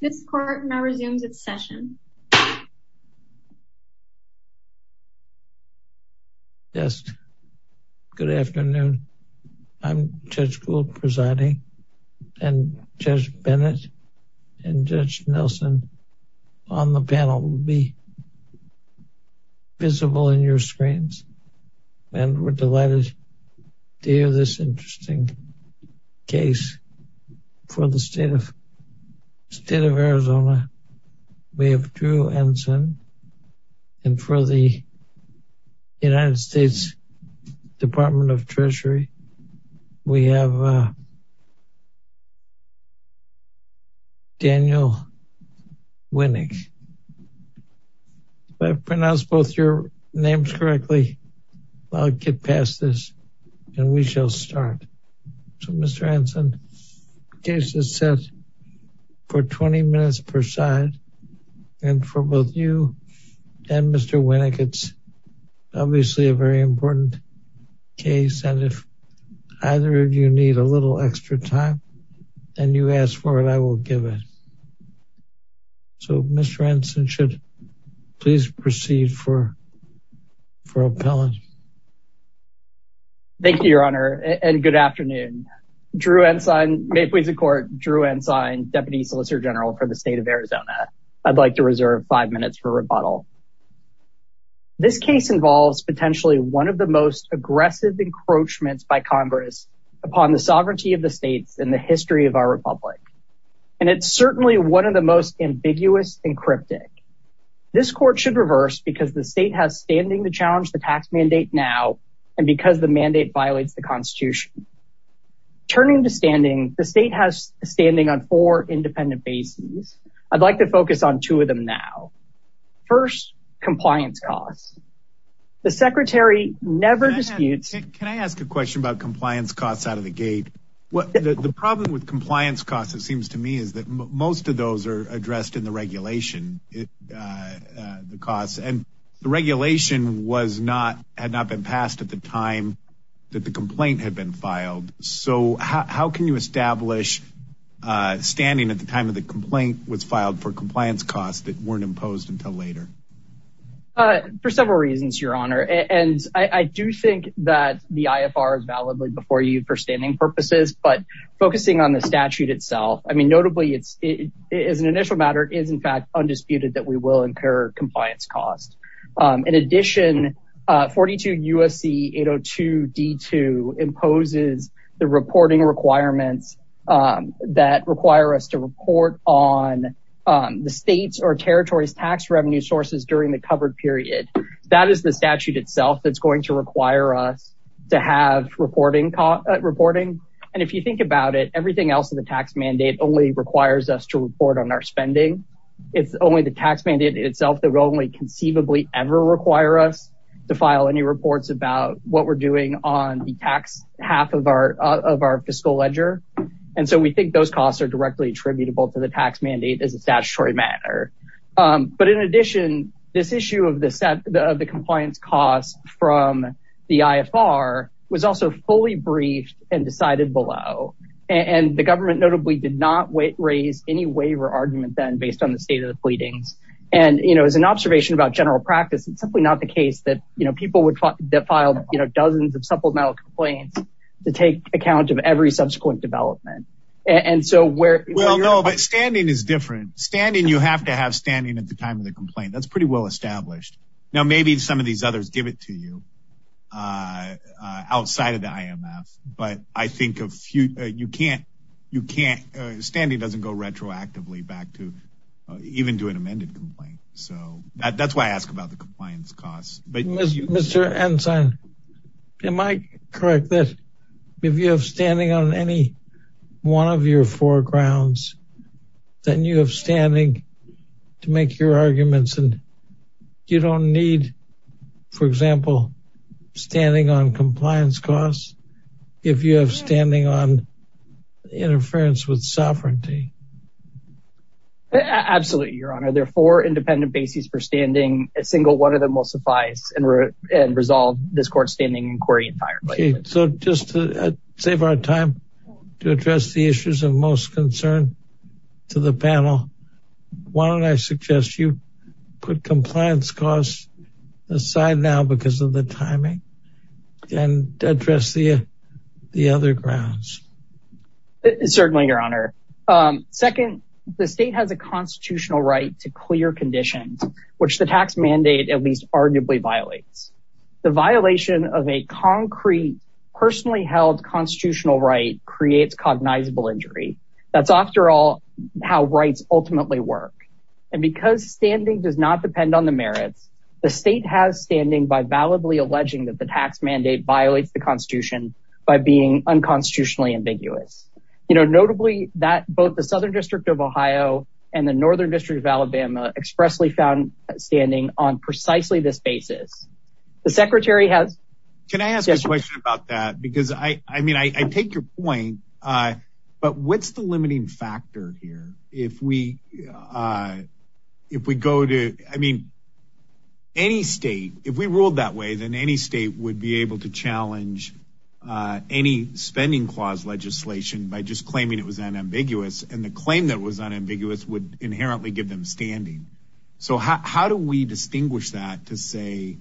This court now resumes its session. Yes. Good afternoon. I'm Judge Gould presiding and Judge Bennett and Judge Nelson on the panel will be visible in your screens and we're delighted to hear this interesting case for the state of state of Arizona. We have Drew Enson and for the United States Department of Treasury. We have Daniel Winick. If I will start. So Mr. Enson case is set for 20 minutes per side. And for both you and Mr. Winick, it's obviously a very important case. And if either of you need a little extra time, and you ask for it, I will give it. So Mr. Enson should please proceed for for your challenge. Thank you, Your Honor, and good afternoon. Drew Enson may please the court Drew Enson, Deputy Solicitor General for the state of Arizona. I'd like to reserve five minutes for rebuttal. This case involves potentially one of the most aggressive encroachments by Congress upon the sovereignty of the states in the history of our republic. And it's certainly one of the most ambiguous and cryptic. This court should reverse because the state has standing to challenge the tax mandate now. And because the mandate violates the Constitution. Turning to standing the state has standing on four independent bases. I'd like to focus on two of them now. First, compliance costs. The Secretary never disputes. Can I ask a question about compliance costs out of the gate? What the problem with compliance costs, it seems to me is that most of those are addressed in the regulation. The costs and the regulation, was not had not been passed at the time that the complaint had been filed. So how can you establish standing at the time of the complaint was filed for compliance costs that weren't imposed until later? For several reasons, Your Honor, and I do think that the IFR is validly before you for standing purposes, but focusing on the statute itself, I mean, notably, it's it is an initial matter is in fact, undisputed that we will incur compliance costs. In addition, 42 USC 802 D2 imposes the reporting requirements that require us to report on the state's or territory's tax revenue sources during the covered period. That is the statute itself that's going to require us to have reporting, reporting. And if you think about it, everything else in the tax mandate only requires us to report on our spending. It's only the tax mandate itself that will only conceivably ever require us to file any reports about what we're doing on the tax half of our of our fiscal ledger. And so we think those costs are directly attributable to the tax mandate as a statutory matter. But in addition, this issue of the set of the compliance costs from the IFR was also fully briefed and decided below. And the government notably did not raise any waiver argument then based on the state of the pleadings. And, you know, as an observation about general practice, it's simply not the case that, you know, people would file, you know, dozens of supplemental complaints to take account of every subsequent development. And so where well, no, but standing is different standing, you have to have standing at the time of the complaint, that's pretty well established. Now, maybe some of these others give it to you outside of the IMF. But I think a few, you can't, you can't, standing doesn't go retroactively back to even do an amended complaint. So that's why I asked about the compliance costs. But Mr. Ensign, am I correct that if you have standing on any one of your foregrounds, then you have standing to make your arguments? And you don't need, for example, standing on compliance costs, if you have standing on interference with sovereignty? Absolutely, Your Honor, there are four independent bases for standing, a single one of them will suffice and resolve this court's standing inquiry entirely. So just to save our time, to address the issues of most concern to the panel, why don't I suggest you put compliance costs aside now because of the timing and address the other grounds? Certainly, Your Honor. Second, the state has a constitutional right to clear conditions, which the tax mandate at least arguably violates. The violation of a concrete, personally held constitutional right creates cognizable injury. That's after all, how rights ultimately work. And because standing does not depend on the merits, the state has standing by validly alleging that the tax mandate violates the Constitution by being unconstitutionally ambiguous. You know, notably that both the Southern District of Ohio and the Northern District of Alabama expressly found standing on precisely this basis. The Secretary has... Can I ask a question about that? Because I mean, I take your point. But what's the limiting factor here? If we go to, I mean, any state, if we ruled that way, then any state would be able to challenge any spending clause legislation by just claiming it was unambiguous. And the claim that was unambiguous would inherently give them standing. So how do we distinguish that to say,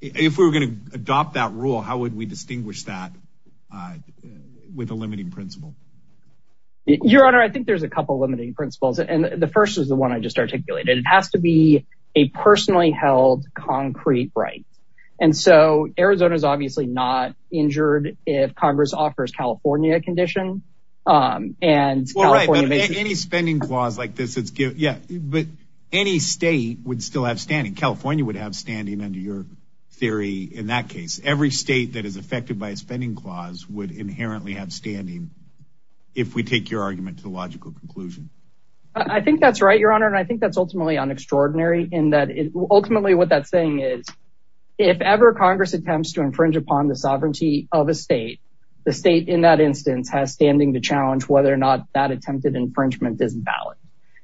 if we were going to adopt that rule, how would we distinguish that with a limiting principle? Your Honor, I think there's a couple of limiting principles. And the first is the one I just articulated. It has to be a personally held concrete right. And so Arizona is obviously not if Congress offers California condition. And any spending clause like this, it's good. Yeah. But any state would still have standing. California would have standing under your theory. In that case, every state that is affected by a spending clause would inherently have standing. If we take your argument to the logical conclusion. I think that's right, Your Honor. And I think that's ultimately unextraordinary in that ultimately what that thing is. If ever Congress attempts to infringe upon the sovereignty of a state, the state in that instance has standing to challenge whether or not that attempted infringement is valid.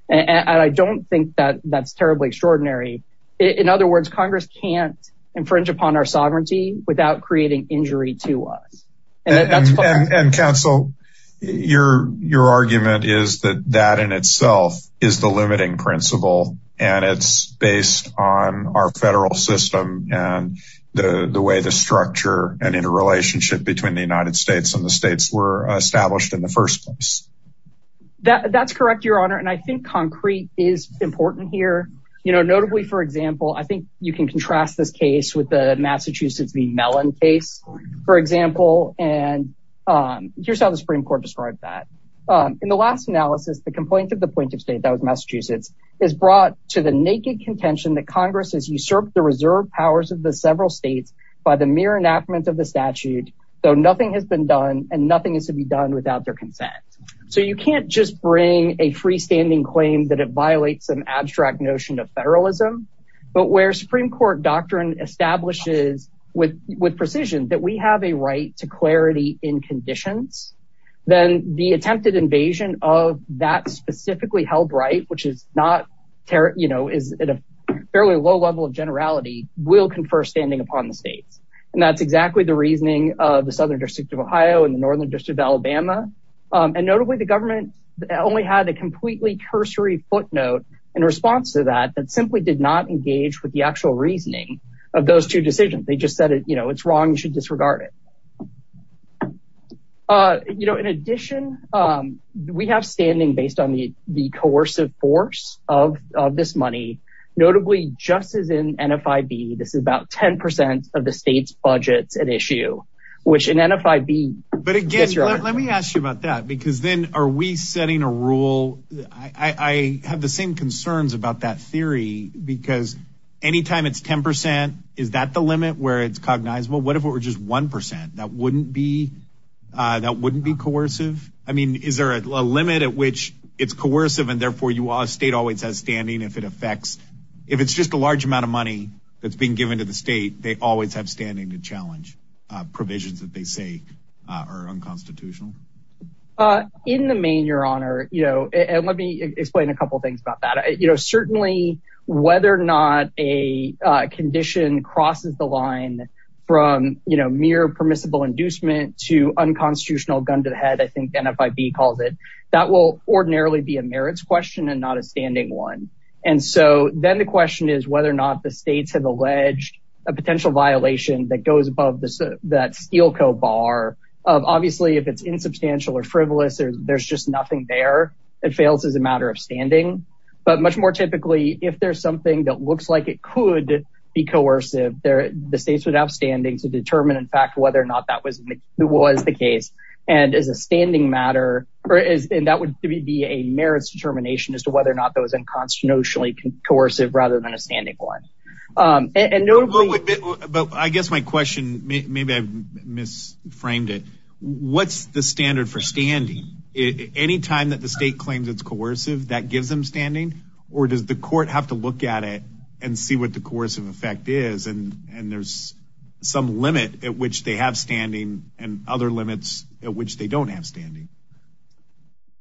And I don't think that that's terribly extraordinary. In other words, Congress can't infringe upon our sovereignty without creating injury to us. And counsel, your argument is that in itself is the limiting principle. And it's based on our federal system and the way the structure and interrelationship between the United States and the states were established in the first place. That's correct, Your Honor. And I think concrete is important here. You know, notably, for example, I think you can contrast this case with the Massachusetts v. Mellon case, for example. And here's how the Supreme Court described that. In the last analysis, the complaint of the plaintiff state that was Massachusetts is brought to the naked contention that Congress has usurped the reserve powers of the several states by the mere enactment of the statute, though nothing has been done and nothing is to be done without their consent. So you can't just bring a freestanding claim that it violates an abstract notion of federalism. But where doctrine establishes with precision that we have a right to clarity in conditions, then the attempted invasion of that specifically held right, which is at a fairly low level of generality, will confer standing upon the states. And that's exactly the reasoning of the Southern District of Ohio and the Northern District of Alabama. And notably, the government only had a reasoning of those two decisions. They just said, you know, it's wrong. You should disregard it. You know, in addition, we have standing based on the coercive force of this money, notably, just as in NFIB. This is about 10 percent of the state's budgets at issue, which in NFIB. But again, let me ask you about that, because then are we setting a rule? I have the same concerns about that theory, because anytime it's 10 percent, is that the limit where it's cognizable? What if it were just one percent? That wouldn't be that wouldn't be coercive. I mean, is there a limit at which it's coercive and therefore you are a state always has standing if it affects if it's just a large amount of money that's being given to the state, they always have standing to challenge provisions that they say are unconstitutional. In the main, your honor, you know, and let me explain a couple of things about that. You know, certainly whether or not a condition crosses the line from, you know, mere permissible inducement to unconstitutional gun to the head, I think NFIB calls it that will ordinarily be a merits question and not a standing one. And so then the question is whether or not the states have alleged a potential violation that goes above that steel bar. Obviously, if it's insubstantial or frivolous, there's just nothing there. It fails as a matter of standing. But much more typically, if there's something that looks like it could be coercive there, the states would have standing to determine, in fact, whether or not that was it was the case. And as a standing matter, or is that would be a merits determination as to whether or not that was inconstitutionally coercive rather than a standing one. And I guess my question, maybe I've misframed it. What's the standard for standing? Any time that the state claims it's coercive, that gives them standing? Or does the court have to look at it and see what the course of effect is? And there's some limit at which they have standing and other limits at which they don't have standing?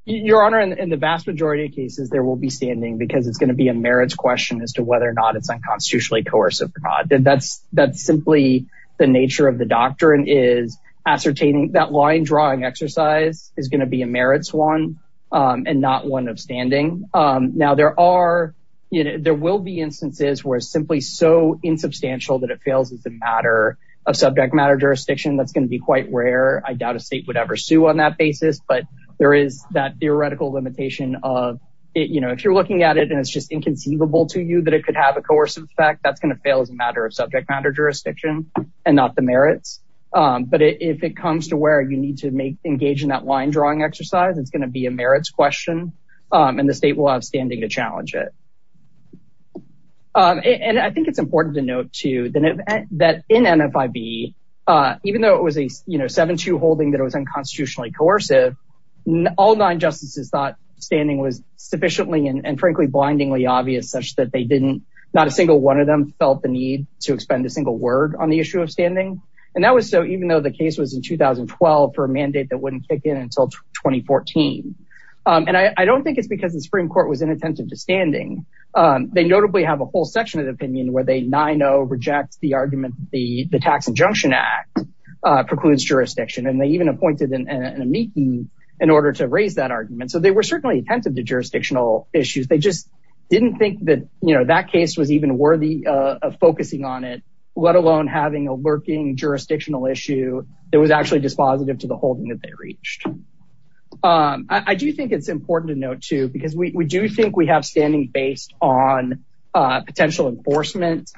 Your Honor, in the vast majority of cases, there will be standing because it's going to be a merits question as to whether or not it's unconstitutionally coercive. That's simply the nature of the doctrine is ascertaining that line drawing exercise is going to be a merits one, and not one of standing. Now, there will be instances where simply so insubstantial that it fails as a matter of subject matter jurisdiction, that's going to be quite rare. I doubt a state would ever sue on that basis. But there is that theoretical limitation of it. If you're looking at it, and it's just inconceivable to you that it could have a coercive effect, that's going to fail as a matter of subject matter jurisdiction, and not the merits. But if it comes to where you need to make engage in that line drawing exercise, it's going to be a merits question, and the state will have standing to challenge it. And I think it's important to note too, that in NFIB, even though it was a, you know, 7-2 holding that it was unconstitutionally coercive, all nine justices thought standing was sufficiently and frankly, blindingly obvious, such that they didn't, not a single one of them felt the need to expend a single word on the issue of standing. And that was so even though the case was in 2012, for a mandate that wouldn't kick in until 2014. And I don't think it's because the Supreme Court was inattentive to standing. They notably have a whole section of the opinion where they 9-0 reject the argument, the Tax Injunction Act precludes jurisdiction, and they appointed an amici in order to raise that argument. So they were certainly attentive to jurisdictional issues. They just didn't think that, you know, that case was even worthy of focusing on it, let alone having a lurking jurisdictional issue that was actually dispositive to the holding that they reached. I do think it's important to note too, because we do think we have standing based on potential enforcement.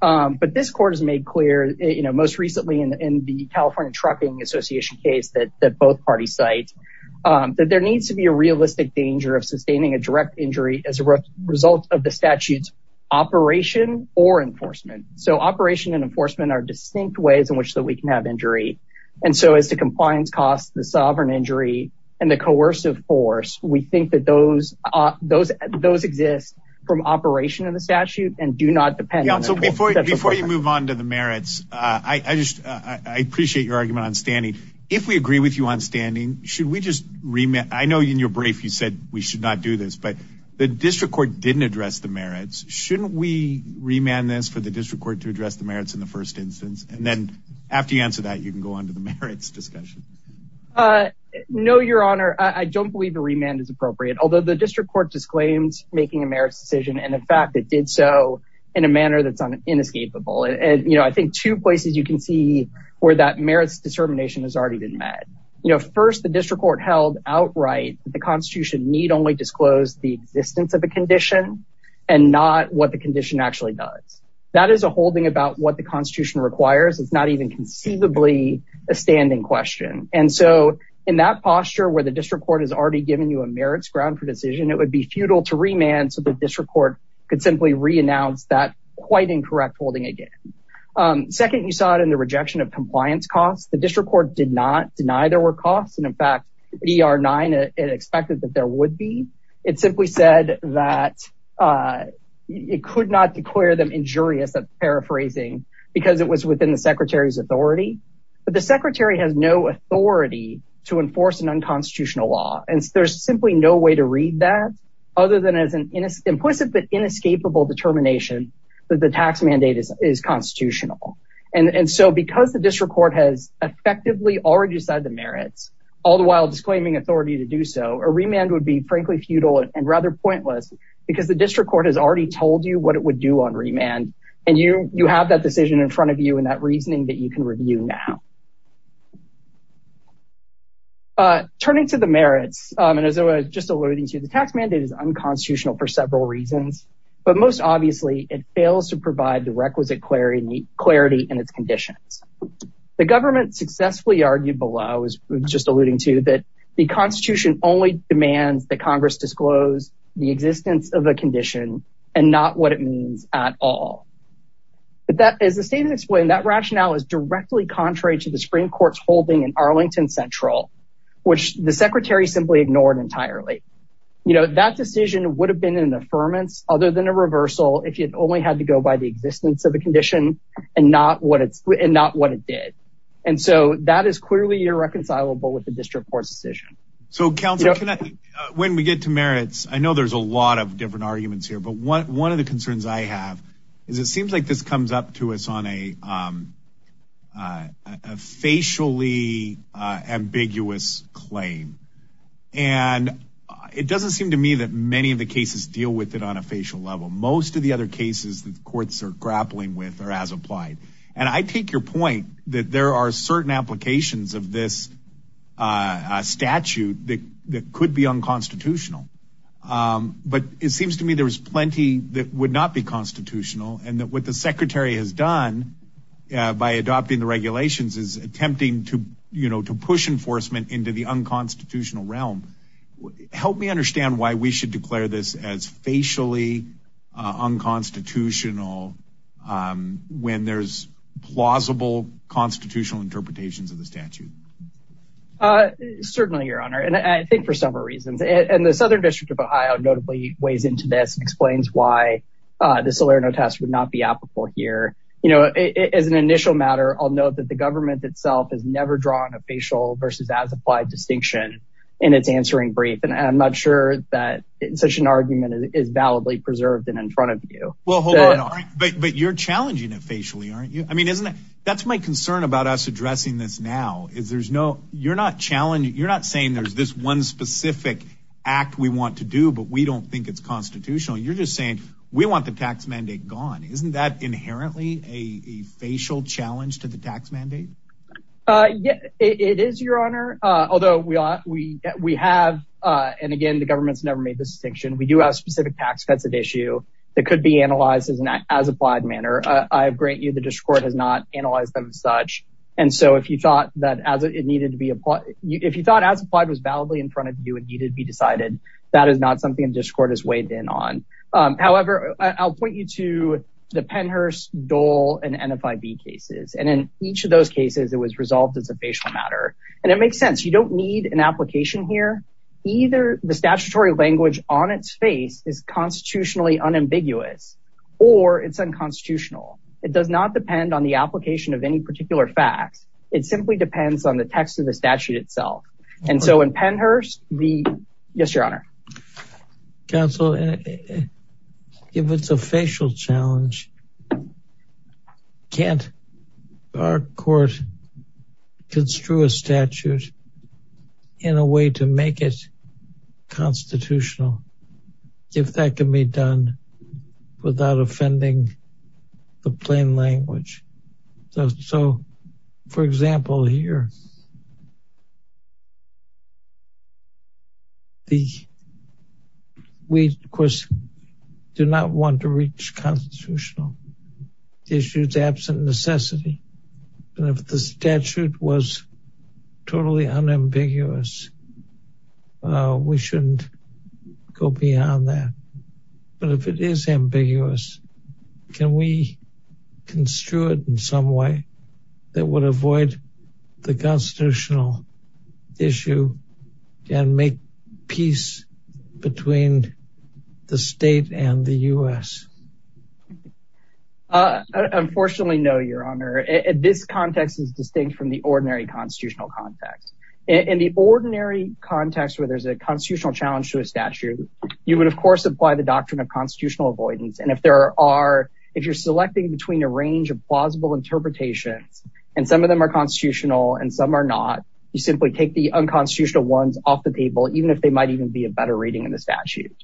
But this court has made clear, you know, most recently in the California Trucking Association case that both parties cite, that there needs to be a realistic danger of sustaining a direct injury as a result of the statute's operation or enforcement. So operation and enforcement are distinct ways in which we can have injury. And so as to compliance costs, the sovereign injury, and the coercive force, we think that those exist from operation of the statute and do not depend on it. So before you move on to the merits, I appreciate your argument on standing. If we agree with you on standing, should we just remand? I know in your brief, you said we should not do this, but the district court didn't address the merits. Shouldn't we remand this for the district court to address the merits in the first instance? And then after you answer that, you can go on to the merits discussion. No, Your Honor, I don't believe the remand is appropriate. Although the district court disclaims making a merits decision, and in so in a manner that's inescapable. And, you know, I think two places you can see where that merits determination has already been met. You know, first, the district court held outright, the Constitution need only disclose the existence of a condition, and not what the condition actually does. That is a holding about what the Constitution requires. It's not even conceivably a standing question. And so in that posture, where the district court has already given you a merits ground for decision, it would be futile to remand so the district court could simply re-announce that quite incorrect holding again. Second, you saw it in the rejection of compliance costs. The district court did not deny there were costs. And in fact, ER 9, it expected that there would be. It simply said that it could not declare them injurious, I'm paraphrasing, because it was within the secretary's authority. But the secretary has no authority to enforce an unconstitutional law. There's simply no way to read that, other than as an implicit but inescapable determination that the tax mandate is constitutional. And so because the district court has effectively already said the merits, all the while disclaiming authority to do so, a remand would be frankly futile and rather pointless, because the district court has already told you what it would do on remand. And you have that decision in front of you and that reasoning that you can review now. Turning to the merits, and as I was just alluding to, the tax mandate is unconstitutional for several reasons. But most obviously, it fails to provide the requisite clarity in its conditions. The government successfully argued below, as I was just alluding to, that the constitution only demands that Congress disclose the existence of a condition and not what it means at all. But as the statement explained, that rationale is directly contrary to the Supreme Court's holding in Arlington Central, which the secretary simply ignored entirely. You know, that decision would have been an affirmance other than a reversal if you'd only had to go by the existence of the condition and not what it did. And so that is clearly irreconcilable with the district court's decision. So counsel, when we get to merits, I know there's a lot of different arguments here, but one of the concerns I have is it seems like this comes up to us on a facially ambiguous claim. And it doesn't seem to me that many of the cases deal with it on a facial level. Most of the other cases that courts are grappling with are as applied. And I take your that there are certain applications of this statute that could be unconstitutional. But it seems to me there's plenty that would not be constitutional and that what the secretary has done by adopting the regulations is attempting to push enforcement into the unconstitutional realm. Help me understand why we should declare this as facially unconstitutional when there's plausible constitutional interpretations of the statute. Certainly, your honor. And I think for several reasons. And the Southern District of Ohio notably weighs into this and explains why this Salerno test would not be applicable here. You know, as an initial matter, I'll note that the government itself has never drawn a facial versus as applied distinction in its answering brief. And I'm not sure that such an argument is validly preserved and in front of you. Well, hold on. But you're challenging it that's my concern about us addressing this now is there's no you're not challenging. You're not saying there's this one specific act we want to do, but we don't think it's constitutional. You're just saying we want the tax mandate gone. Isn't that inherently a facial challenge to the tax mandate? Yeah, it is, your honor. Although we we have and again, the government's never made this distinction. We do have specific tax cuts of issue that could be analyzed as an as applied manner. I grant you the district court has not analyzed them as such. And so if you thought that as it needed to be applied, if you thought as applied was validly in front of you, it needed to be decided. That is not something the district court has weighed in on. However, I'll point you to the Pennhurst, Dole and NFIB cases. And in each of those cases, it was resolved as a facial matter. And it makes sense. You don't need an application here. Either the statutory language on its face is constitutionally unambiguous, or it's unconstitutional. It does not depend on the application of any particular facts. It simply depends on the text of the statute itself. And so in Pennhurst, the yes, your honor. Counsel, if it's a facial challenge, can't our court construe a statute in a way to make it constitutional? If that can be done without offending the plain language. So for example, here, we, of course, do not want to reach constitutional issues absent necessity. And if the statute was totally unambiguous, we shouldn't go beyond that. But if it is ambiguous, can we construe it in some way that would avoid the constitutional issue and make peace between the state and the US? Unfortunately, no, your honor. This context is distinct from the ordinary constitutional context. In the ordinary context where there's a constitutional challenge to a statute, you would, of course, apply the doctrine of constitutional avoidance. And if there are, if you're selecting between a range of plausible interpretations, and some of them are constitutional and some are not, you simply take the unconstitutional ones off the table, even if they might even be a better reading in the statute.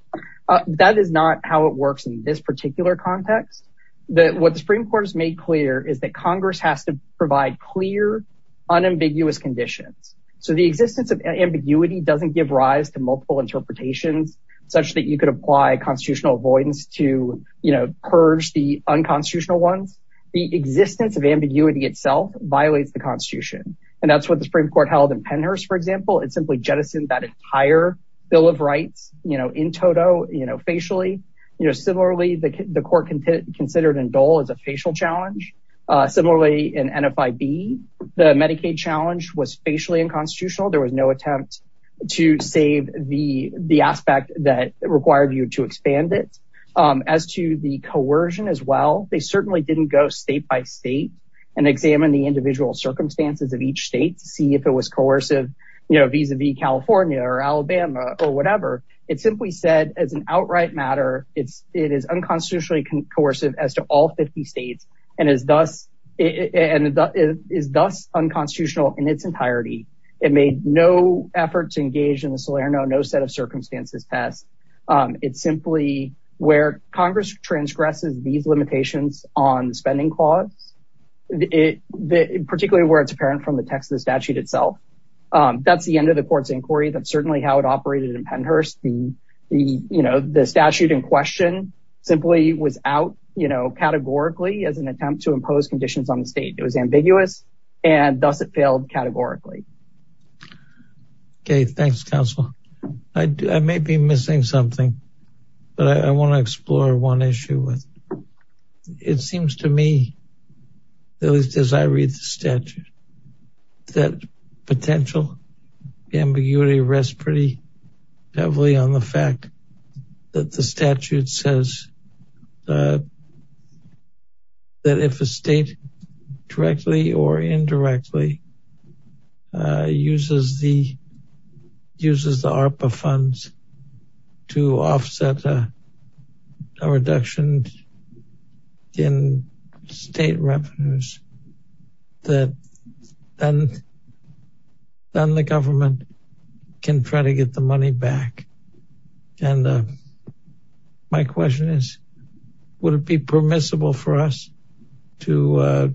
That is not how it works in this particular context. That what the Supreme Court has made clear is that Congress has to provide clear, unambiguous conditions. So the existence of ambiguity doesn't give rise to such that you could apply constitutional avoidance to, you know, purge the unconstitutional ones. The existence of ambiguity itself violates the Constitution. And that's what the Supreme Court held in Pennhurst, for example, it simply jettisoned that entire Bill of Rights, you know, in toto, you know, facially, you know, similarly, the court can consider it in Dole as a facial challenge. Similarly, in NFIB, the Medicaid challenge was facially unconstitutional, there was no attempt to save the aspect that required you to expand it. As to the coercion, as well, they certainly didn't go state by state, and examine the individual circumstances of each state to see if it was coercive, you know, vis-a-vis California or Alabama, or whatever. It simply said as an outright matter, it is unconstitutionally coercive as to all 50 states, and is thus unconstitutional in its entirety. It made no effort to engage in the Solano, no set of circumstances passed. It's simply where Congress transgresses these limitations on the spending clause, particularly where it's apparent from the text of the statute itself. That's the end of the court's inquiry. That's certainly how it operated in Pennhurst. The statute in question simply was out, you know, categorically as an attempt to impose conditions on the state. It was ambiguous, and thus it failed categorically. Okay, thanks, counsel. I may be missing something, but I want to explore one issue. It seems to me, at least as I read the statute, that potential ambiguity rests pretty heavily on the fact that the statute says that if a state directly or indirectly uses the ARPA funds to offset a reduction in state revenues, that then the government can try to get the money back. My question is, would it be permissible for us to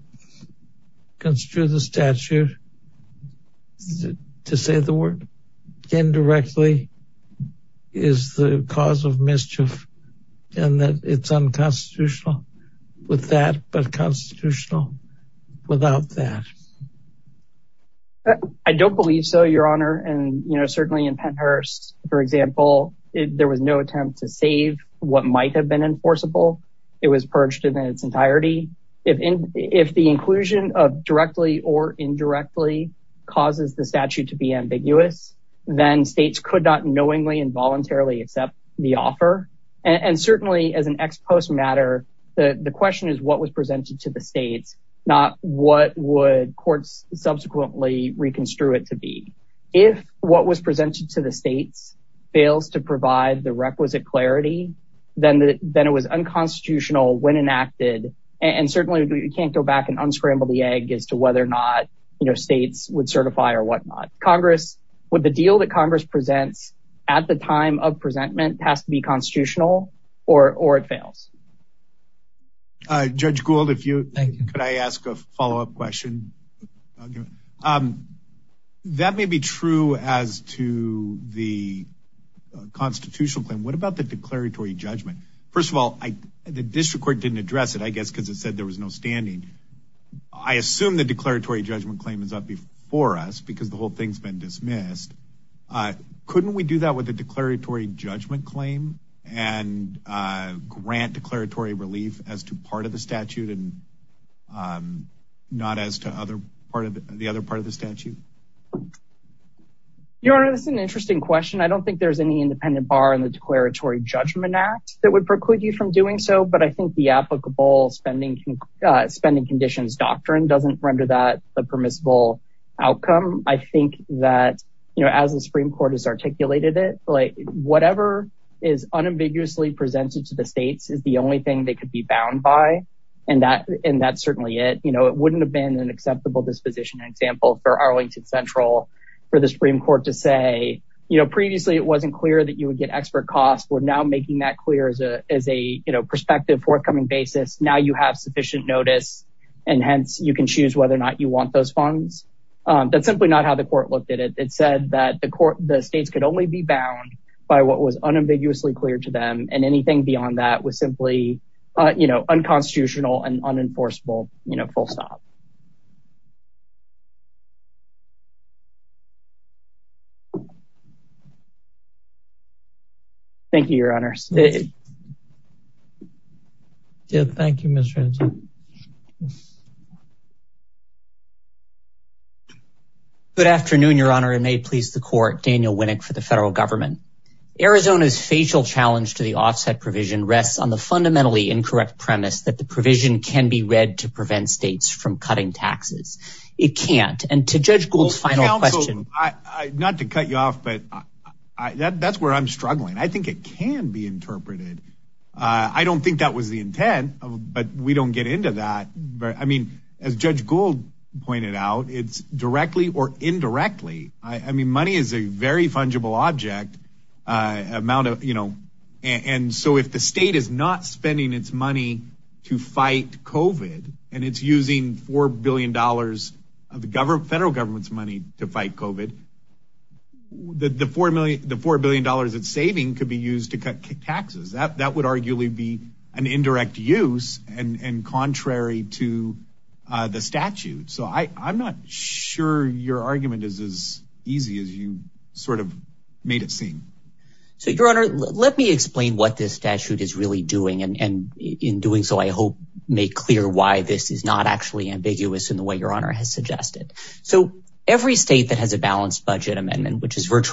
construe the statute to say the word indirectly is the cause of mischief, and that it's unconstitutional with that, but constitutional without that? I don't believe so, Your Honor. Certainly in Pennhurst, for example, there was no attempt to save what might have been enforceable. It was purged in its entirety. If the inclusion of directly or indirectly causes the statute to be ambiguous, then states could not knowingly accept the offer. Certainly as an ex post matter, the question is what was presented to the states, not what would courts subsequently reconstrue it to be. If what was presented to the states fails to provide the requisite clarity, then it was unconstitutional when enacted, and certainly we can't go back and unscramble the egg as to whether or not states would certify or pass to be constitutional or it fails. Judge Gould, could I ask a follow-up question? That may be true as to the constitutional claim. What about the declaratory judgment? First of all, the district court didn't address it, I guess because it said there was no standing. I assume the declaratory judgment claim is up before us because the whole thing's been dismissed. Couldn't we do that with the declaratory judgment claim and grant declaratory relief as to part of the statute and not as to the other part of the statute? Your Honor, this is an interesting question. I don't think there's any independent bar in the Declaratory Judgment Act that would preclude you from doing so, but I think the applicable spending conditions doctrine doesn't render that a permissible outcome. I think that as the Supreme Court has articulated it, whatever is unambiguously presented to the states is the only thing they could be bound by, and that's certainly it. It wouldn't have been an acceptable disposition example for Arlington Central for the Supreme Court to say, previously it wasn't clear that you would get expert costs. We're now making that clear as a perspective, forthcoming basis. Now you have sufficient notice, and hence you can choose whether or not you want those funds. That's simply not how the court looked at it. It said that the states could only be bound by what was unambiguously clear to them, and anything beyond that was simply unconstitutional and unenforceable, full stop. Thank you, Your Honors. Thank you, Mr. Anton. Good afternoon, Your Honor, and may it please the court. Daniel Winnick for the federal government. Arizona's facial challenge to the offset provision rests on the fundamentally incorrect premise that the provision can be read to prevent states from cutting taxes. It can't, and to Judge Gould's final question. Counsel, not to cut you off, but that's where I'm struggling. I think it can be interpreted. I don't think that was the intent, but we don't get into that. I mean, as Judge Gould pointed out, it's directly or indirectly. I mean, money is a very fungible object. So if the state is not spending its money to fight COVID, and it's using $4 billion of the federal government's money to fight COVID, the $4 billion it's saving could be used to cut taxes. That would arguably be an indirect use and contrary to the statute. So I'm not sure your argument is as easy as you sort of made it seem. So, Your Honor, let me explain what this statute is really doing, and in doing so, I hope make clear why this is not actually ambiguous in the way Your Honor has suggested. So every state that has a balanced budget amendment, which is with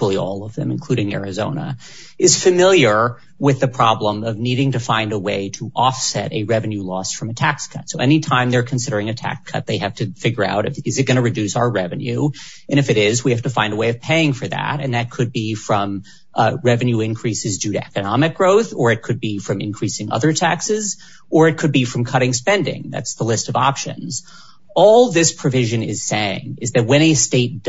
the problem of needing to find a way to offset a revenue loss from a tax cut. So anytime they're considering a tax cut, they have to figure out, is it going to reduce our revenue? And if it is, we have to find a way of paying for that. And that could be from revenue increases due to economic growth, or it could be from increasing other taxes, or it could be from cutting spending. That's the list of options. All this provision is saying is that when a state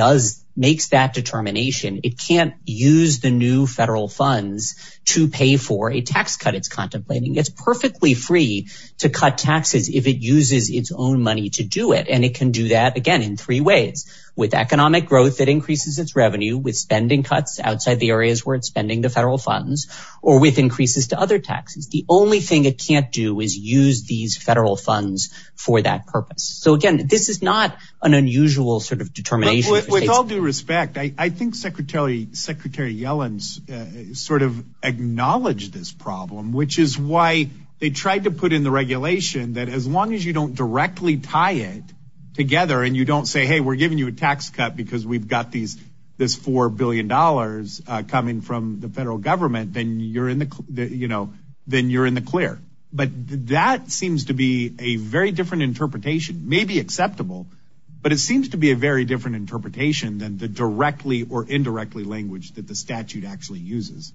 makes that determination, it can't use the new federal funds to pay for a tax cut it's contemplating. It's perfectly free to cut taxes if it uses its own money to do it. And it can do that again in three ways. With economic growth, it increases its revenue with spending cuts outside the areas where it's spending the federal funds, or with increases to other taxes. The only thing it can't do is use these federal funds for that purpose. So again, this is not an unusual sort of determination. With all due respect, I think Secretary Yellen's sort of acknowledged this problem, which is why they tried to put in the regulation that as long as you don't directly tie it together and you don't say, hey, we're giving you a tax cut because we've got this $4 billion coming from the federal government, then you're in the clear. But that seems to be a very different interpretation. Maybe acceptable, but it seems to be a very different interpretation than the directly or indirectly language that the statute actually uses.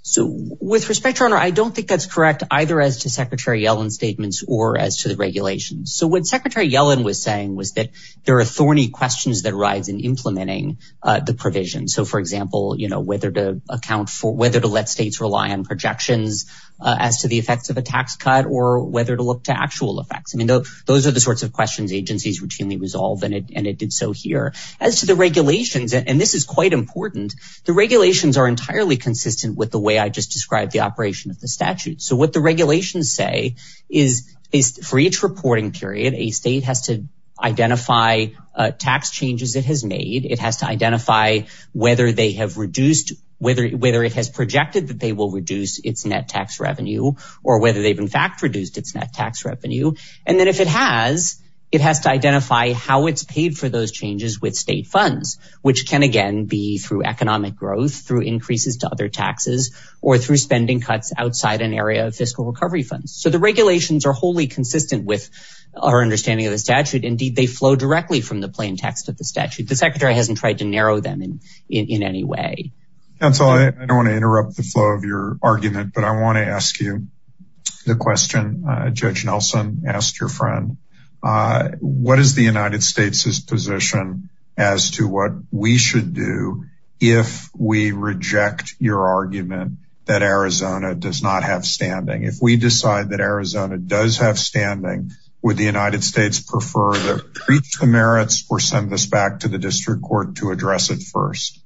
So with respect, your honor, I don't think that's correct either as to Secretary Yellen's statements or as to the regulations. So what Secretary Yellen was saying was that there are thorny questions that rise in implementing the provision. So for example, whether to let states rely on projections as to the effects of a tax cut or whether to look to actual effects. I mean, those are the sorts of questions agencies routinely resolve, and it did so here. As to the regulations, and this is quite important, the regulations are entirely consistent with the way I just described the operation of the statute. So what the regulations say is for each reporting period, a state has to identify tax changes it has made. It has to or whether they've in fact reduced its net tax revenue. And then if it has, it has to identify how it's paid for those changes with state funds, which can again be through economic growth, through increases to other taxes, or through spending cuts outside an area of fiscal recovery funds. So the regulations are wholly consistent with our understanding of the statute. Indeed, they flow directly from the plain text of the statute. The secretary hasn't tried to narrow them in in any way. Council, I don't want to interrupt the flow of your argument. But I want to ask you the question. Judge Nelson asked your friend, what is the United States's position as to what we should do if we reject your argument that Arizona does not have standing? If we decide that Arizona does have standing, would the United States prefer to reach the statute first?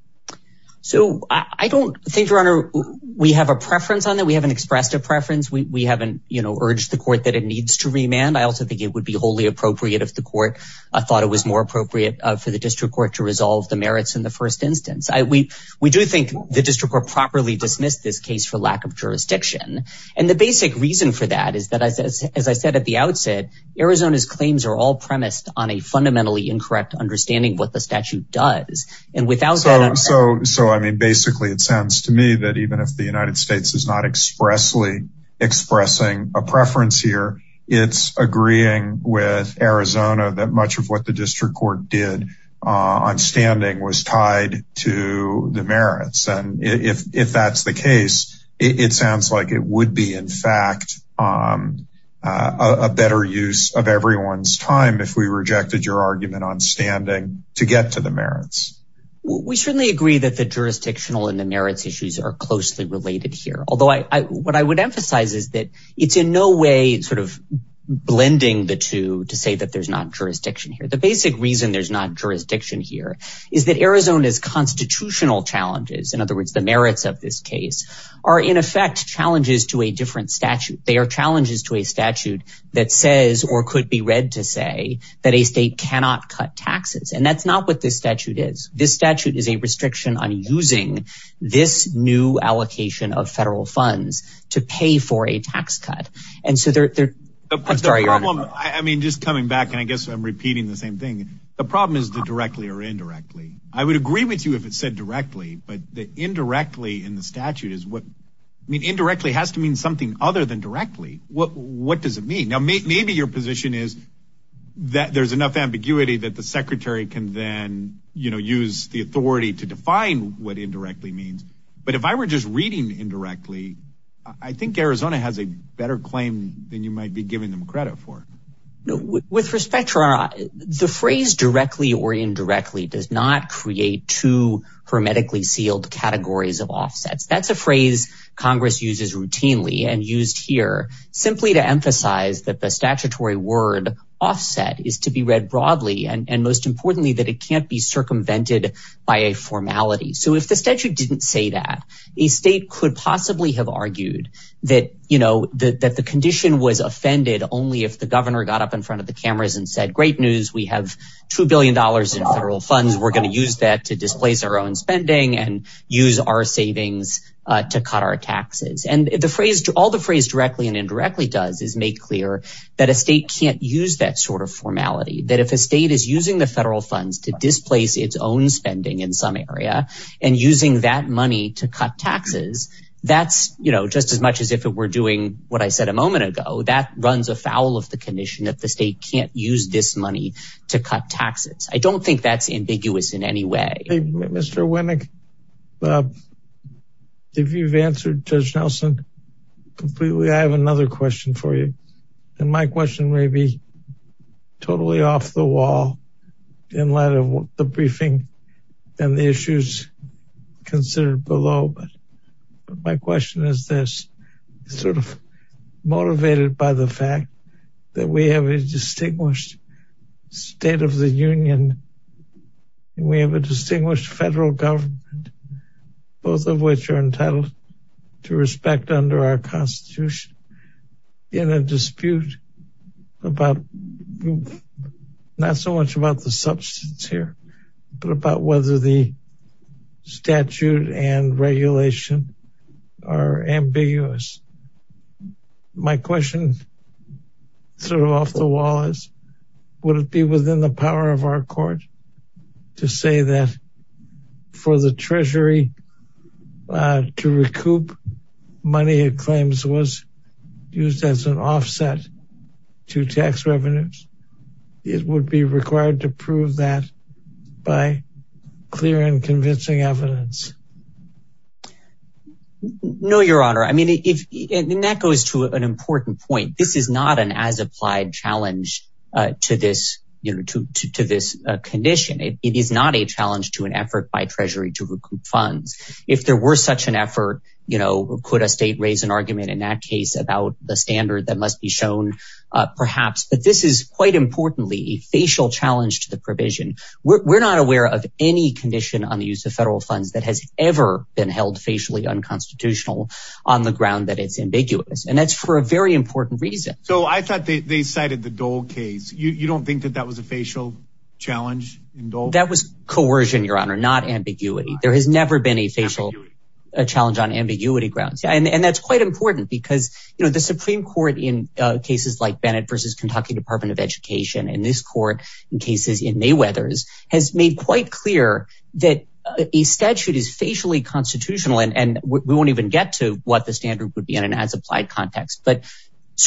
So I don't think, your honor, we have a preference on that. We haven't expressed a preference. We haven't urged the court that it needs to remand. I also think it would be wholly appropriate if the court thought it was more appropriate for the district court to resolve the merits in the first instance. We do think the district court properly dismissed this case for lack of jurisdiction. And the basic reason for that is that, as I said at the outset, Arizona's claims are all premised on a fundamentally incorrect understanding of what the statute does and without that. So I mean, basically, it sounds to me that even if the United States is not expressly expressing a preference here, it's agreeing with Arizona that much of what the district court did on standing was tied to the merits. And if that's the case, it sounds like it would be, in fact, a better use of everyone's time if we rejected your argument on standing to get to the merits. We certainly agree that the jurisdictional and the merits issues are closely related here. Although what I would emphasize is that it's in no way sort of blending the two to say that there's not jurisdiction here. The basic reason there's not jurisdiction here is that Arizona's constitutional challenges, in other words, the merits of this case, are in effect challenges to a different statute. They are challenges to a different statute. And that's not what this statute is. This statute is a restriction on using this new allocation of federal funds to pay for a tax cut. And so they're... I mean, just coming back, and I guess I'm repeating the same thing, the problem is the directly or indirectly. I would agree with you if it said directly, but the indirectly in the statute is what... I mean, indirectly has to mean something other than directly. What does it mean? Now, maybe your position is that there's enough ambiguity that the secretary can then use the authority to define what indirectly means. But if I were just reading indirectly, I think Arizona has a better claim than you might be giving them credit for. With respect to our... The phrase directly or indirectly does not create two hermetically sealed categories of offsets. That's a phrase Congress uses routinely and used here simply to and most importantly, that it can't be circumvented by a formality. So if the statute didn't say that, a state could possibly have argued that the condition was offended only if the governor got up in front of the cameras and said, great news, we have $2 billion in federal funds. We're going to use that to displace our own spending and use our savings to cut our taxes. And all the phrase directly and indirectly does is make clear that a state can't use that sort formality. That if a state is using the federal funds to displace its own spending in some area and using that money to cut taxes, that's just as much as if it were doing what I said a moment ago, that runs afoul of the condition that the state can't use this money to cut taxes. I don't think that's ambiguous in any way. Mr. Winnick, if you've answered Judge Nelson completely, I have another question for you. And my question may be totally off the wall in light of the briefing and the issues considered below. But my question is this, sort of motivated by the fact that we have a distinguished state of the union. We have a distinguished federal government, both of which are entitled to respect under our constitution in a dispute about, not so much about the substance here, but about whether the statute and regulation are ambiguous. My question, sort of off the wall is, would it be within the power of our court to say that for the treasury to recoup money it claims was used as an offset to tax revenues? It would be required to prove that by clear and convincing evidence. No, your honor. I mean, if that goes to an important point, this is not an as applied challenge to this condition. It is not a challenge to an effort by treasury to recoup funds. If there were such an effort, you know, could a state raise an argument in that case about the standard that must be shown perhaps. But this is quite importantly a facial challenge to the provision. We're not aware of any condition on the use of federal funds that has ever been held facially unconstitutional on the ground that it's ambiguous. And that's for a very case. You don't think that that was a facial challenge? That was coercion, your honor, not ambiguity. There has never been a challenge on ambiguity grounds. And that's quite important because, you know, the Supreme Court in cases like Bennett versus Kentucky Department of Education and this court in cases in Mayweathers has made quite clear that a statute is facially constitutional and we won't even get to what the standard would be in an as applied context. But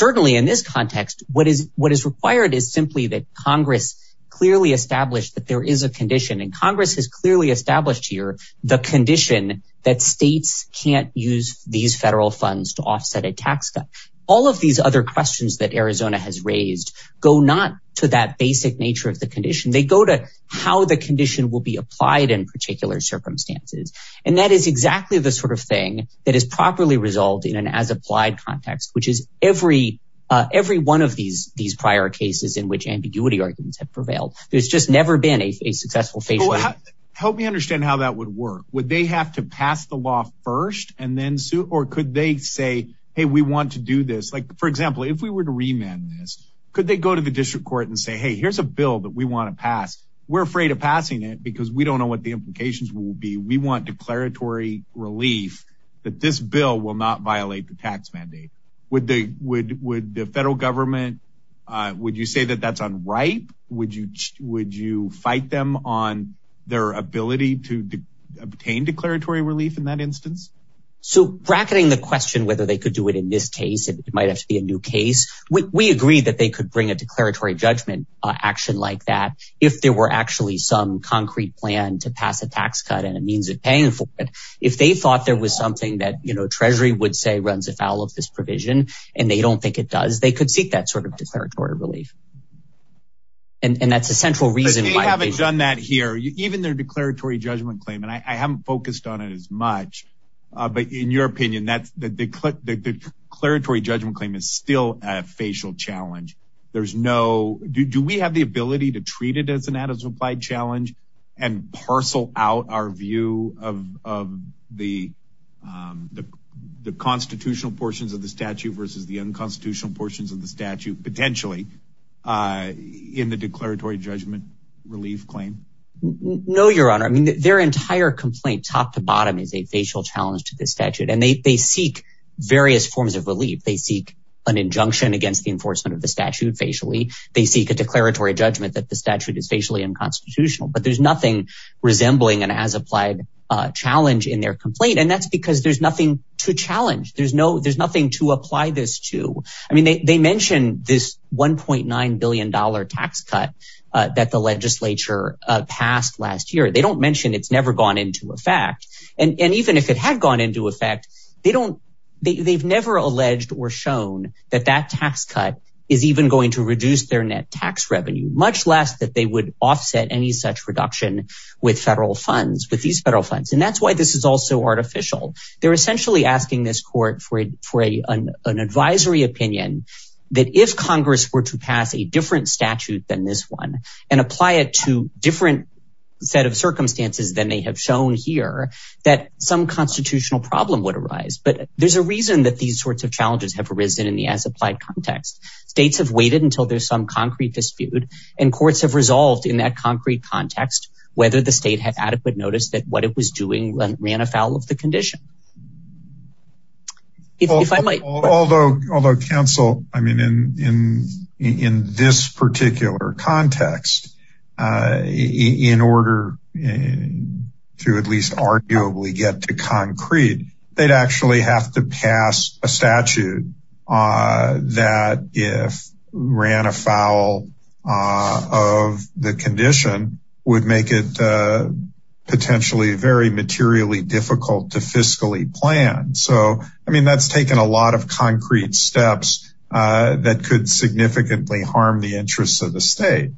what is required is simply that Congress clearly established that there is a condition. And Congress has clearly established here the condition that states can't use these federal funds to offset a tax cut. All of these other questions that Arizona has raised go not to that basic nature of the condition. They go to how the condition will be applied in particular circumstances. And that is exactly the sort of thing that is properly resolved in an as prior cases in which ambiguity arguments have prevailed. There's just never been a successful face. Help me understand how that would work. Would they have to pass the law first and then sue? Or could they say, hey, we want to do this? Like, for example, if we were to remand this, could they go to the district court and say, hey, here's a bill that we want to pass? We're afraid of passing it because we don't know what the implications will be. We want declaratory relief that this bill will not violate the tax mandate. Would they would the federal government would you say that that's unripe? Would you would you fight them on their ability to obtain declaratory relief in that instance? So bracketing the question whether they could do it in this case, it might have to be a new case. We agree that they could bring a declaratory judgment action like that if there were actually some concrete plan to pass a tax cut and a means of paying for it. If they thought there was something that Treasury would say runs afoul of this provision, and they don't think it does, they could seek that sort of declaratory relief. And that's a central reason why they haven't done that here, even their declaratory judgment claim. And I haven't focused on it as much. But in your opinion, that's the declaratory judgment claim is still a facial challenge. There's no do we have the ability to treat it as an added supply challenge, and parcel out our view of the the constitutional portions of the statute versus the unconstitutional portions of the statute potentially in the declaratory judgment relief claim? No, Your Honor, I mean, their entire complaint top to bottom is a facial challenge to this statute. And they seek various forms of relief. They seek an injunction against the enforcement of the statute facially, they seek a declaratory judgment that the statute is facially unconstitutional, but there's nothing resembling an as applied challenge in their complaint. And that's because there's nothing to challenge. There's no there's nothing to apply this to. I mean, they mentioned this $1.9 billion tax cut that the legislature passed last year, they don't mention it's never gone into effect. And even if it had gone into effect, they don't, they've never alleged or shown that that tax cut is even going to reduce their tax revenue, much less that they would offset any such reduction with federal funds with these federal funds. And that's why this is also artificial. They're essentially asking this court for a for a an advisory opinion, that if Congress were to pass a different statute than this one, and apply it to different set of circumstances than they have shown here, that some constitutional problem would arise. But there's a reason that these sorts of challenges have arisen in the as applied context, states have waited until there's some concrete dispute, and courts have resolved in that concrete context, whether the state had adequate notice that what it was doing ran afoul of the condition. If I might, although although counsel, I mean, in in, in this particular context, in order to at least arguably get to concrete, they'd actually have to pass a statute that if ran afoul of the condition would make it potentially very materially difficult to fiscally plan. So I mean, that's taken a lot of concrete steps that could significantly harm the interests of the state.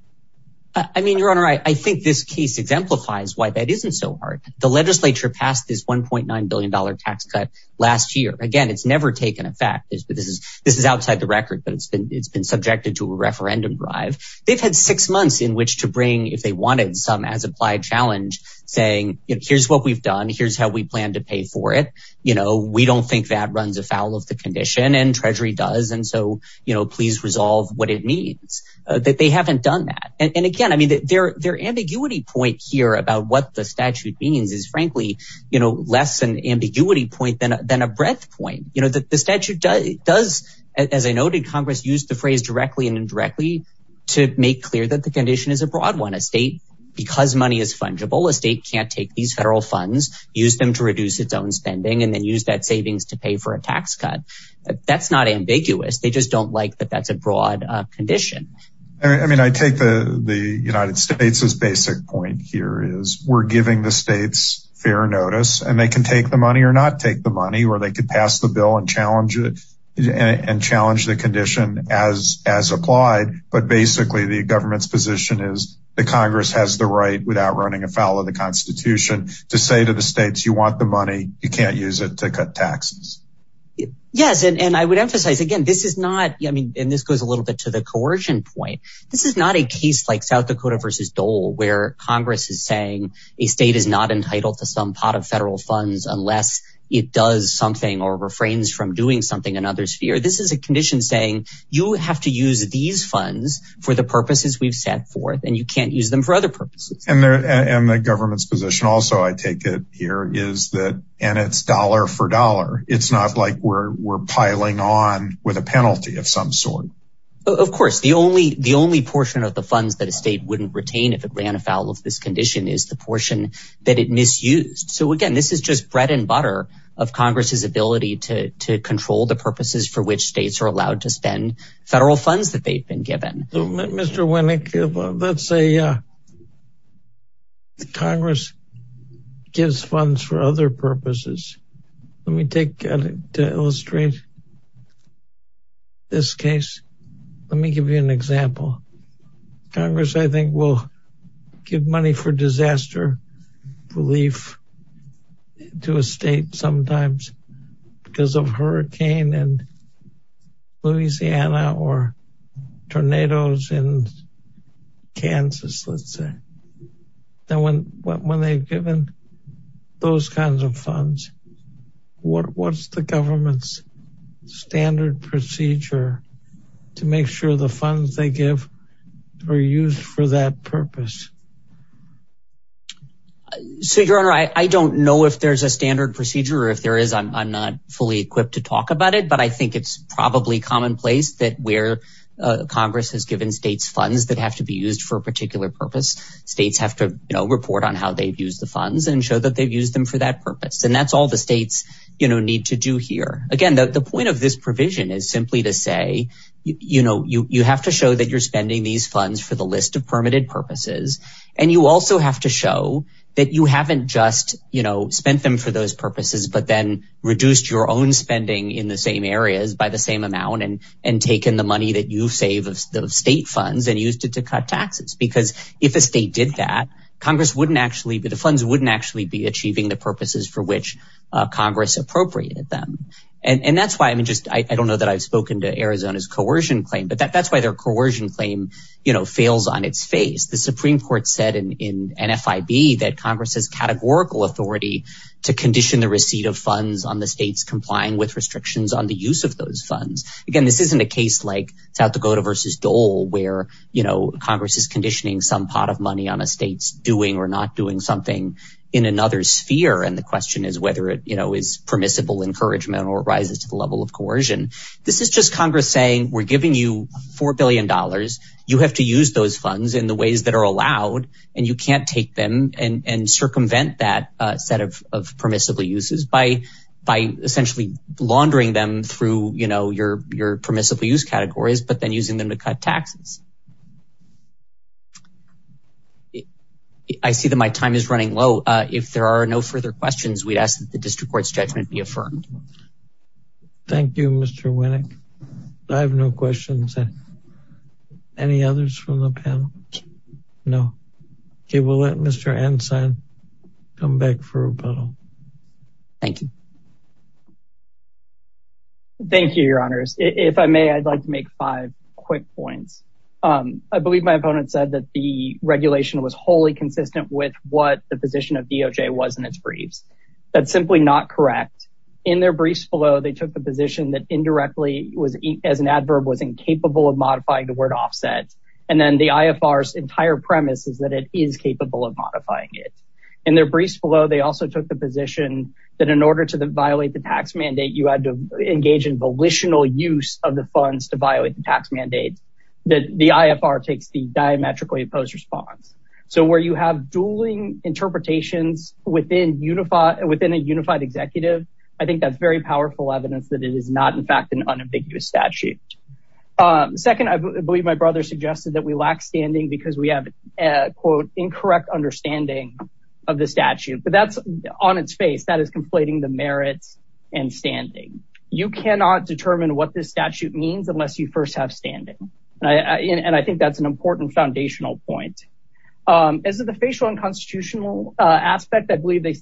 I mean, Your Honor, I think this case exemplifies why that isn't so The legislature passed this $1.9 billion tax cut last year. Again, it's never taken effect is but this is this is outside the record, but it's been it's been subjected to a referendum drive. They've had six months in which to bring if they wanted some as applied challenge, saying, here's what we've done, here's how we plan to pay for it. You know, we don't think that runs afoul of the condition and Treasury does. And so, you know, please resolve what it means that they haven't done that. And again, I mean, their their ambiguity point here about what the statute means is, frankly, you know, less an ambiguity point than than a breadth point, you know, that the statute does, as I noted, Congress used the phrase directly and indirectly, to make clear that the condition is a broad one, a state, because money is fungible, a state can't take these federal funds, use them to reduce its own spending, and then use that savings to pay for a tax cut. That's not ambiguous. They just don't like that that's a broad condition. I mean, I take the the United States's basic point here is we're giving the states fair notice, and they can take the money or not take the money or they could pass the bill and challenge it and challenge the condition as as applied. But basically, the government's position is the Congress has the right without running afoul of the Constitution to say to the states, you want the money, you can't use it to cut taxes. Yes. And I would emphasize again, this is not I mean, and this goes a little bit to the coercion point. This is not a case like South Dakota versus Dole, where Congress is saying a state is not entitled to some pot of federal funds unless it does something or refrains from doing something and others fear this is a condition saying you have to use these funds for the purposes we've set forth and you can't use them for other purposes. And the government's position also I take it here is that and it's dollar for dollar. It's not like we're piling on with a penalty of some sort. Of course, the only the only portion of the funds that a state wouldn't retain if it ran afoul of this condition is the portion that it misused. So again, this is just bread and butter of Congress's ability to control the purposes for which states are allowed to spend federal funds that they've been given. Mr. Winnick, let's say the Congress gives funds for other purposes. Let me take to illustrate this case. Let me give you an example. Congress, I think, will give money for disaster relief to a state sometimes because of hurricane and Louisiana or tornadoes in Kansas, let's say. Now, when they've given those kinds of funds, what's the government's standard procedure to make sure the funds they give are used for that purpose? So, Your Honor, I don't know if there's a standard procedure or if there is. I'm not fully equipped to talk about it, but I think it's probably commonplace that where Congress has given states funds that have to be used for a particular purpose. States have to report on how they've used the funds and show that they've used them for that purpose. And that's all the states need to do here. Again, the point of this provision is simply to say, you have to show that you're spending these funds for the list of permitted purposes. And you also have to show that you haven't just spent them for those purposes, but then reduced your own spending in the same areas by the same amount and taken the money that you save of state funds and used it to cut taxes. Because if a state did that, the funds wouldn't actually be achieving the purposes for which Congress appropriated them. And that's why, I don't know that I've spoken to Arizona's coercion claim, but that's why their coercion claim fails on its face. The Supreme Court said in NFIB that Congress has categorical authority to condition the receipt of funds on the states complying with restrictions on the use of those funds. Again, this isn't a some pot of money on a state's doing or not doing something in another sphere. And the question is whether it is permissible encouragement or rises to the level of coercion. This is just Congress saying, we're giving you $4 billion. You have to use those funds in the ways that are allowed, and you can't take them and circumvent that set of permissible uses by essentially laundering them through your permissible use categories, but then using them to cut taxes. I see that my time is running low. If there are no further questions, we'd ask that the district court's judgment be affirmed. Thank you, Mr. Winnick. I have no questions. Any others from the panel? No. Okay, we'll let Mr. Ensign come back for rebuttal. Thank you. Thank you, your honors. If I may, I'd like to make five quick points. I believe my opponent said that the regulation was wholly consistent with what the position of DOJ was in its briefs. That's simply not correct. In their briefs below, they took the position that indirectly was, as an adverb, was incapable of modifying the word offset. And then the IFR's entire premise is that it is capable of modifying it. In their briefs below, they also took the position that in order to violate the tax mandate, you had to engage in volitional use of the funds to violate the tax mandate. The IFR takes the diametrically opposed response. So where you have dueling interpretations within a unified executive, I think that's very powerful evidence that it is not, in fact, an unambiguous statute. Second, I believe my brother suggested that we lack standing because we have, quote, incorrect understanding of the statute. But that's on its face. That is conflating the merits and standing. You cannot determine what this statute means unless you first have standing. And I think that's an important foundational point. As to the facial unconstitutional aspect, I believe they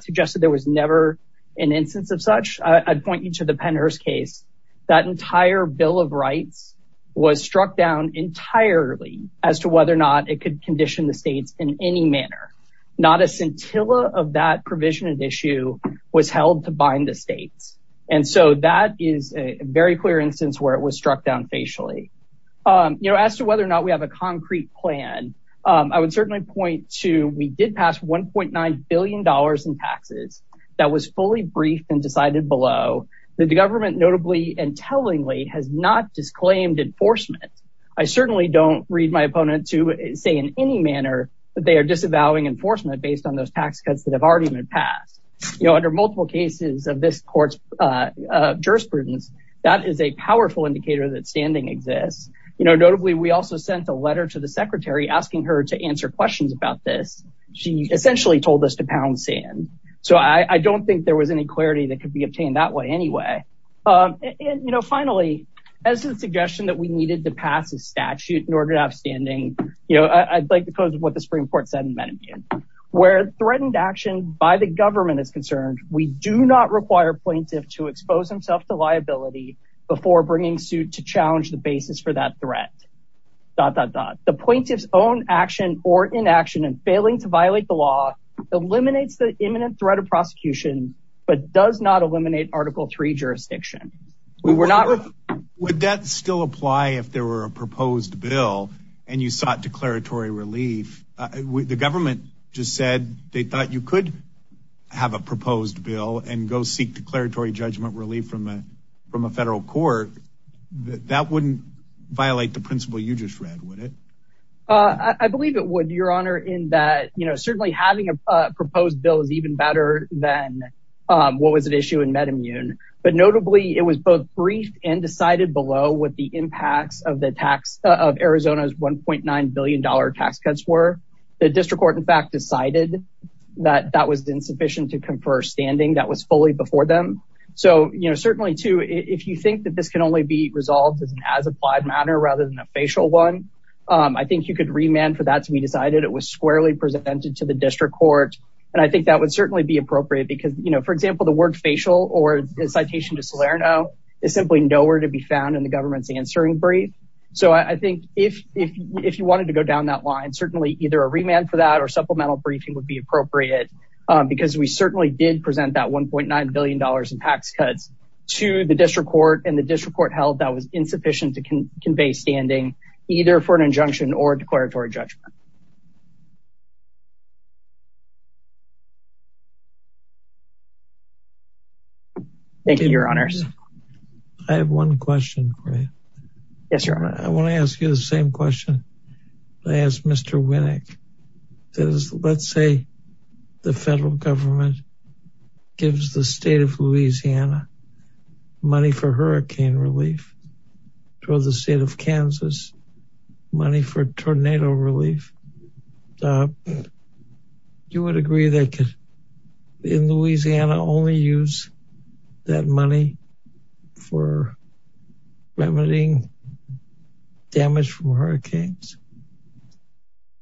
suggested there was never an instance of such. I'd point you the Pennhurst case, that entire Bill of Rights was struck down entirely as to whether or not it could condition the states in any manner. Not a scintilla of that provision of issue was held to bind the states. And so that is a very clear instance where it was struck down facially. You know, as to whether or not we have a concrete plan, I would certainly point to we did pass $1.9 billion in taxes that was fully briefed and decided below. The government notably and tellingly has not disclaimed enforcement. I certainly don't read my opponent to say in any manner that they are disavowing enforcement based on those tax cuts that have already been passed. You know, under multiple cases of this court's jurisprudence, that is a powerful indicator that standing exists. You know, notably, we also sent a letter to the secretary asking her to answer so I don't think there was any clarity that could be obtained that way anyway. And, you know, finally, as a suggestion that we needed to pass a statute in order to have standing, you know, I'd like to close with what the Supreme Court said in Medellin, where threatened action by the government is concerned, we do not require plaintiff to expose himself to liability before bringing suit to challenge the basis for that threat. Dot dot dot, the plaintiff's own action or inaction and failing to violate the law eliminates the imminent threat of prosecution, but does not eliminate article three jurisdiction. Would that still apply if there were a proposed bill, and you sought declaratory relief, the government just said they thought you could have a proposed bill and go seek declaratory judgment relief from a federal court, that wouldn't violate the principle you just read, would it? I believe it would, Your Honor, in that, you know, certainly having a proposed bill is even better than what was at issue in MedImmune. But notably, it was both brief and decided below what the impacts of the tax of Arizona's $1.9 billion tax cuts were. The district court, in fact, decided that that was insufficient to confer standing that was fully before them. So, you know, certainly, too, if you think that this can only be resolved as an as applied matter rather than a facial one, I think you could remand for that to be decided. It was squarely presented to the district court. And I think that would certainly be appropriate because, you know, for example, the word facial or citation to Salerno is simply nowhere to be found in the government's answering brief. So I think if if if you wanted to go down that line, certainly either a remand for that or supplemental briefing would be appropriate, because we certainly did present that $1.9 billion in tax cuts to the district court and the district court held that was insufficient to convey standing either for an injunction or declaratory judgment. Thank you, Your Honors. I have one question. Yes, Your Honor. I want to the federal government gives the state of Louisiana money for hurricane relief to the state of Kansas money for tornado relief. Do you agree that in Louisiana only use that money for remedying damage from hurricanes?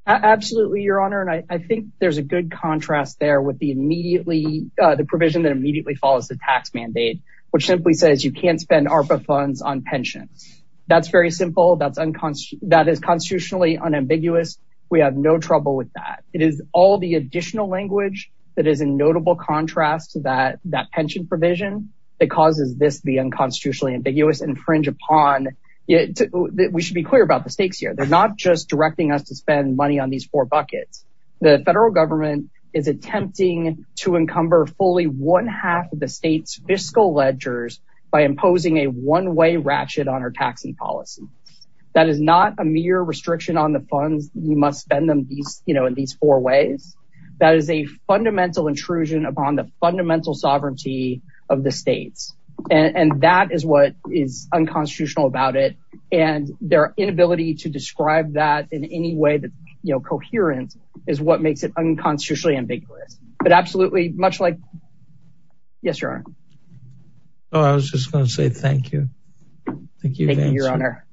Absolutely, Your Honor. And I think there's a good contrast there with the immediately the provision that immediately follows the tax mandate, which simply says you can't spend ARPA funds on pensions. That's very simple. That's unconstitutional. That is constitutionally unambiguous. We have no trouble with that. It is all the additional language that is in notable contrast to that that pension provision that causes this the unconstitutionally ambiguous infringe upon it. We should be clear about the stakes here. They're not just directing us to spend money on these four buckets. The federal government is attempting to encumber fully one half of the state's fiscal ledgers by imposing a one way ratchet on our taxing policy. That is not a mere restriction on the funds, you must spend them these, you know, in these four ways. That is what is unconstitutional about it. And their inability to describe that in any way that, you know, coherent is what makes it unconstitutionally ambiguous. But absolutely much like Yes, Your Honor. Oh, I was just gonna say thank you. Thank you, Your Honor.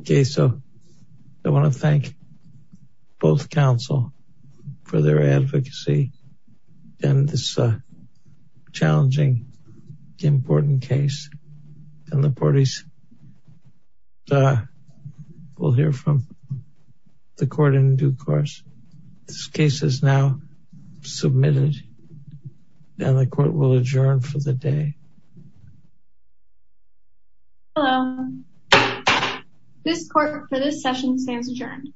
Okay, so I want to and the parties will hear from the court in due course. This case is now submitted and the court will adjourn for the day. Hello. This court for this session stands adjourned.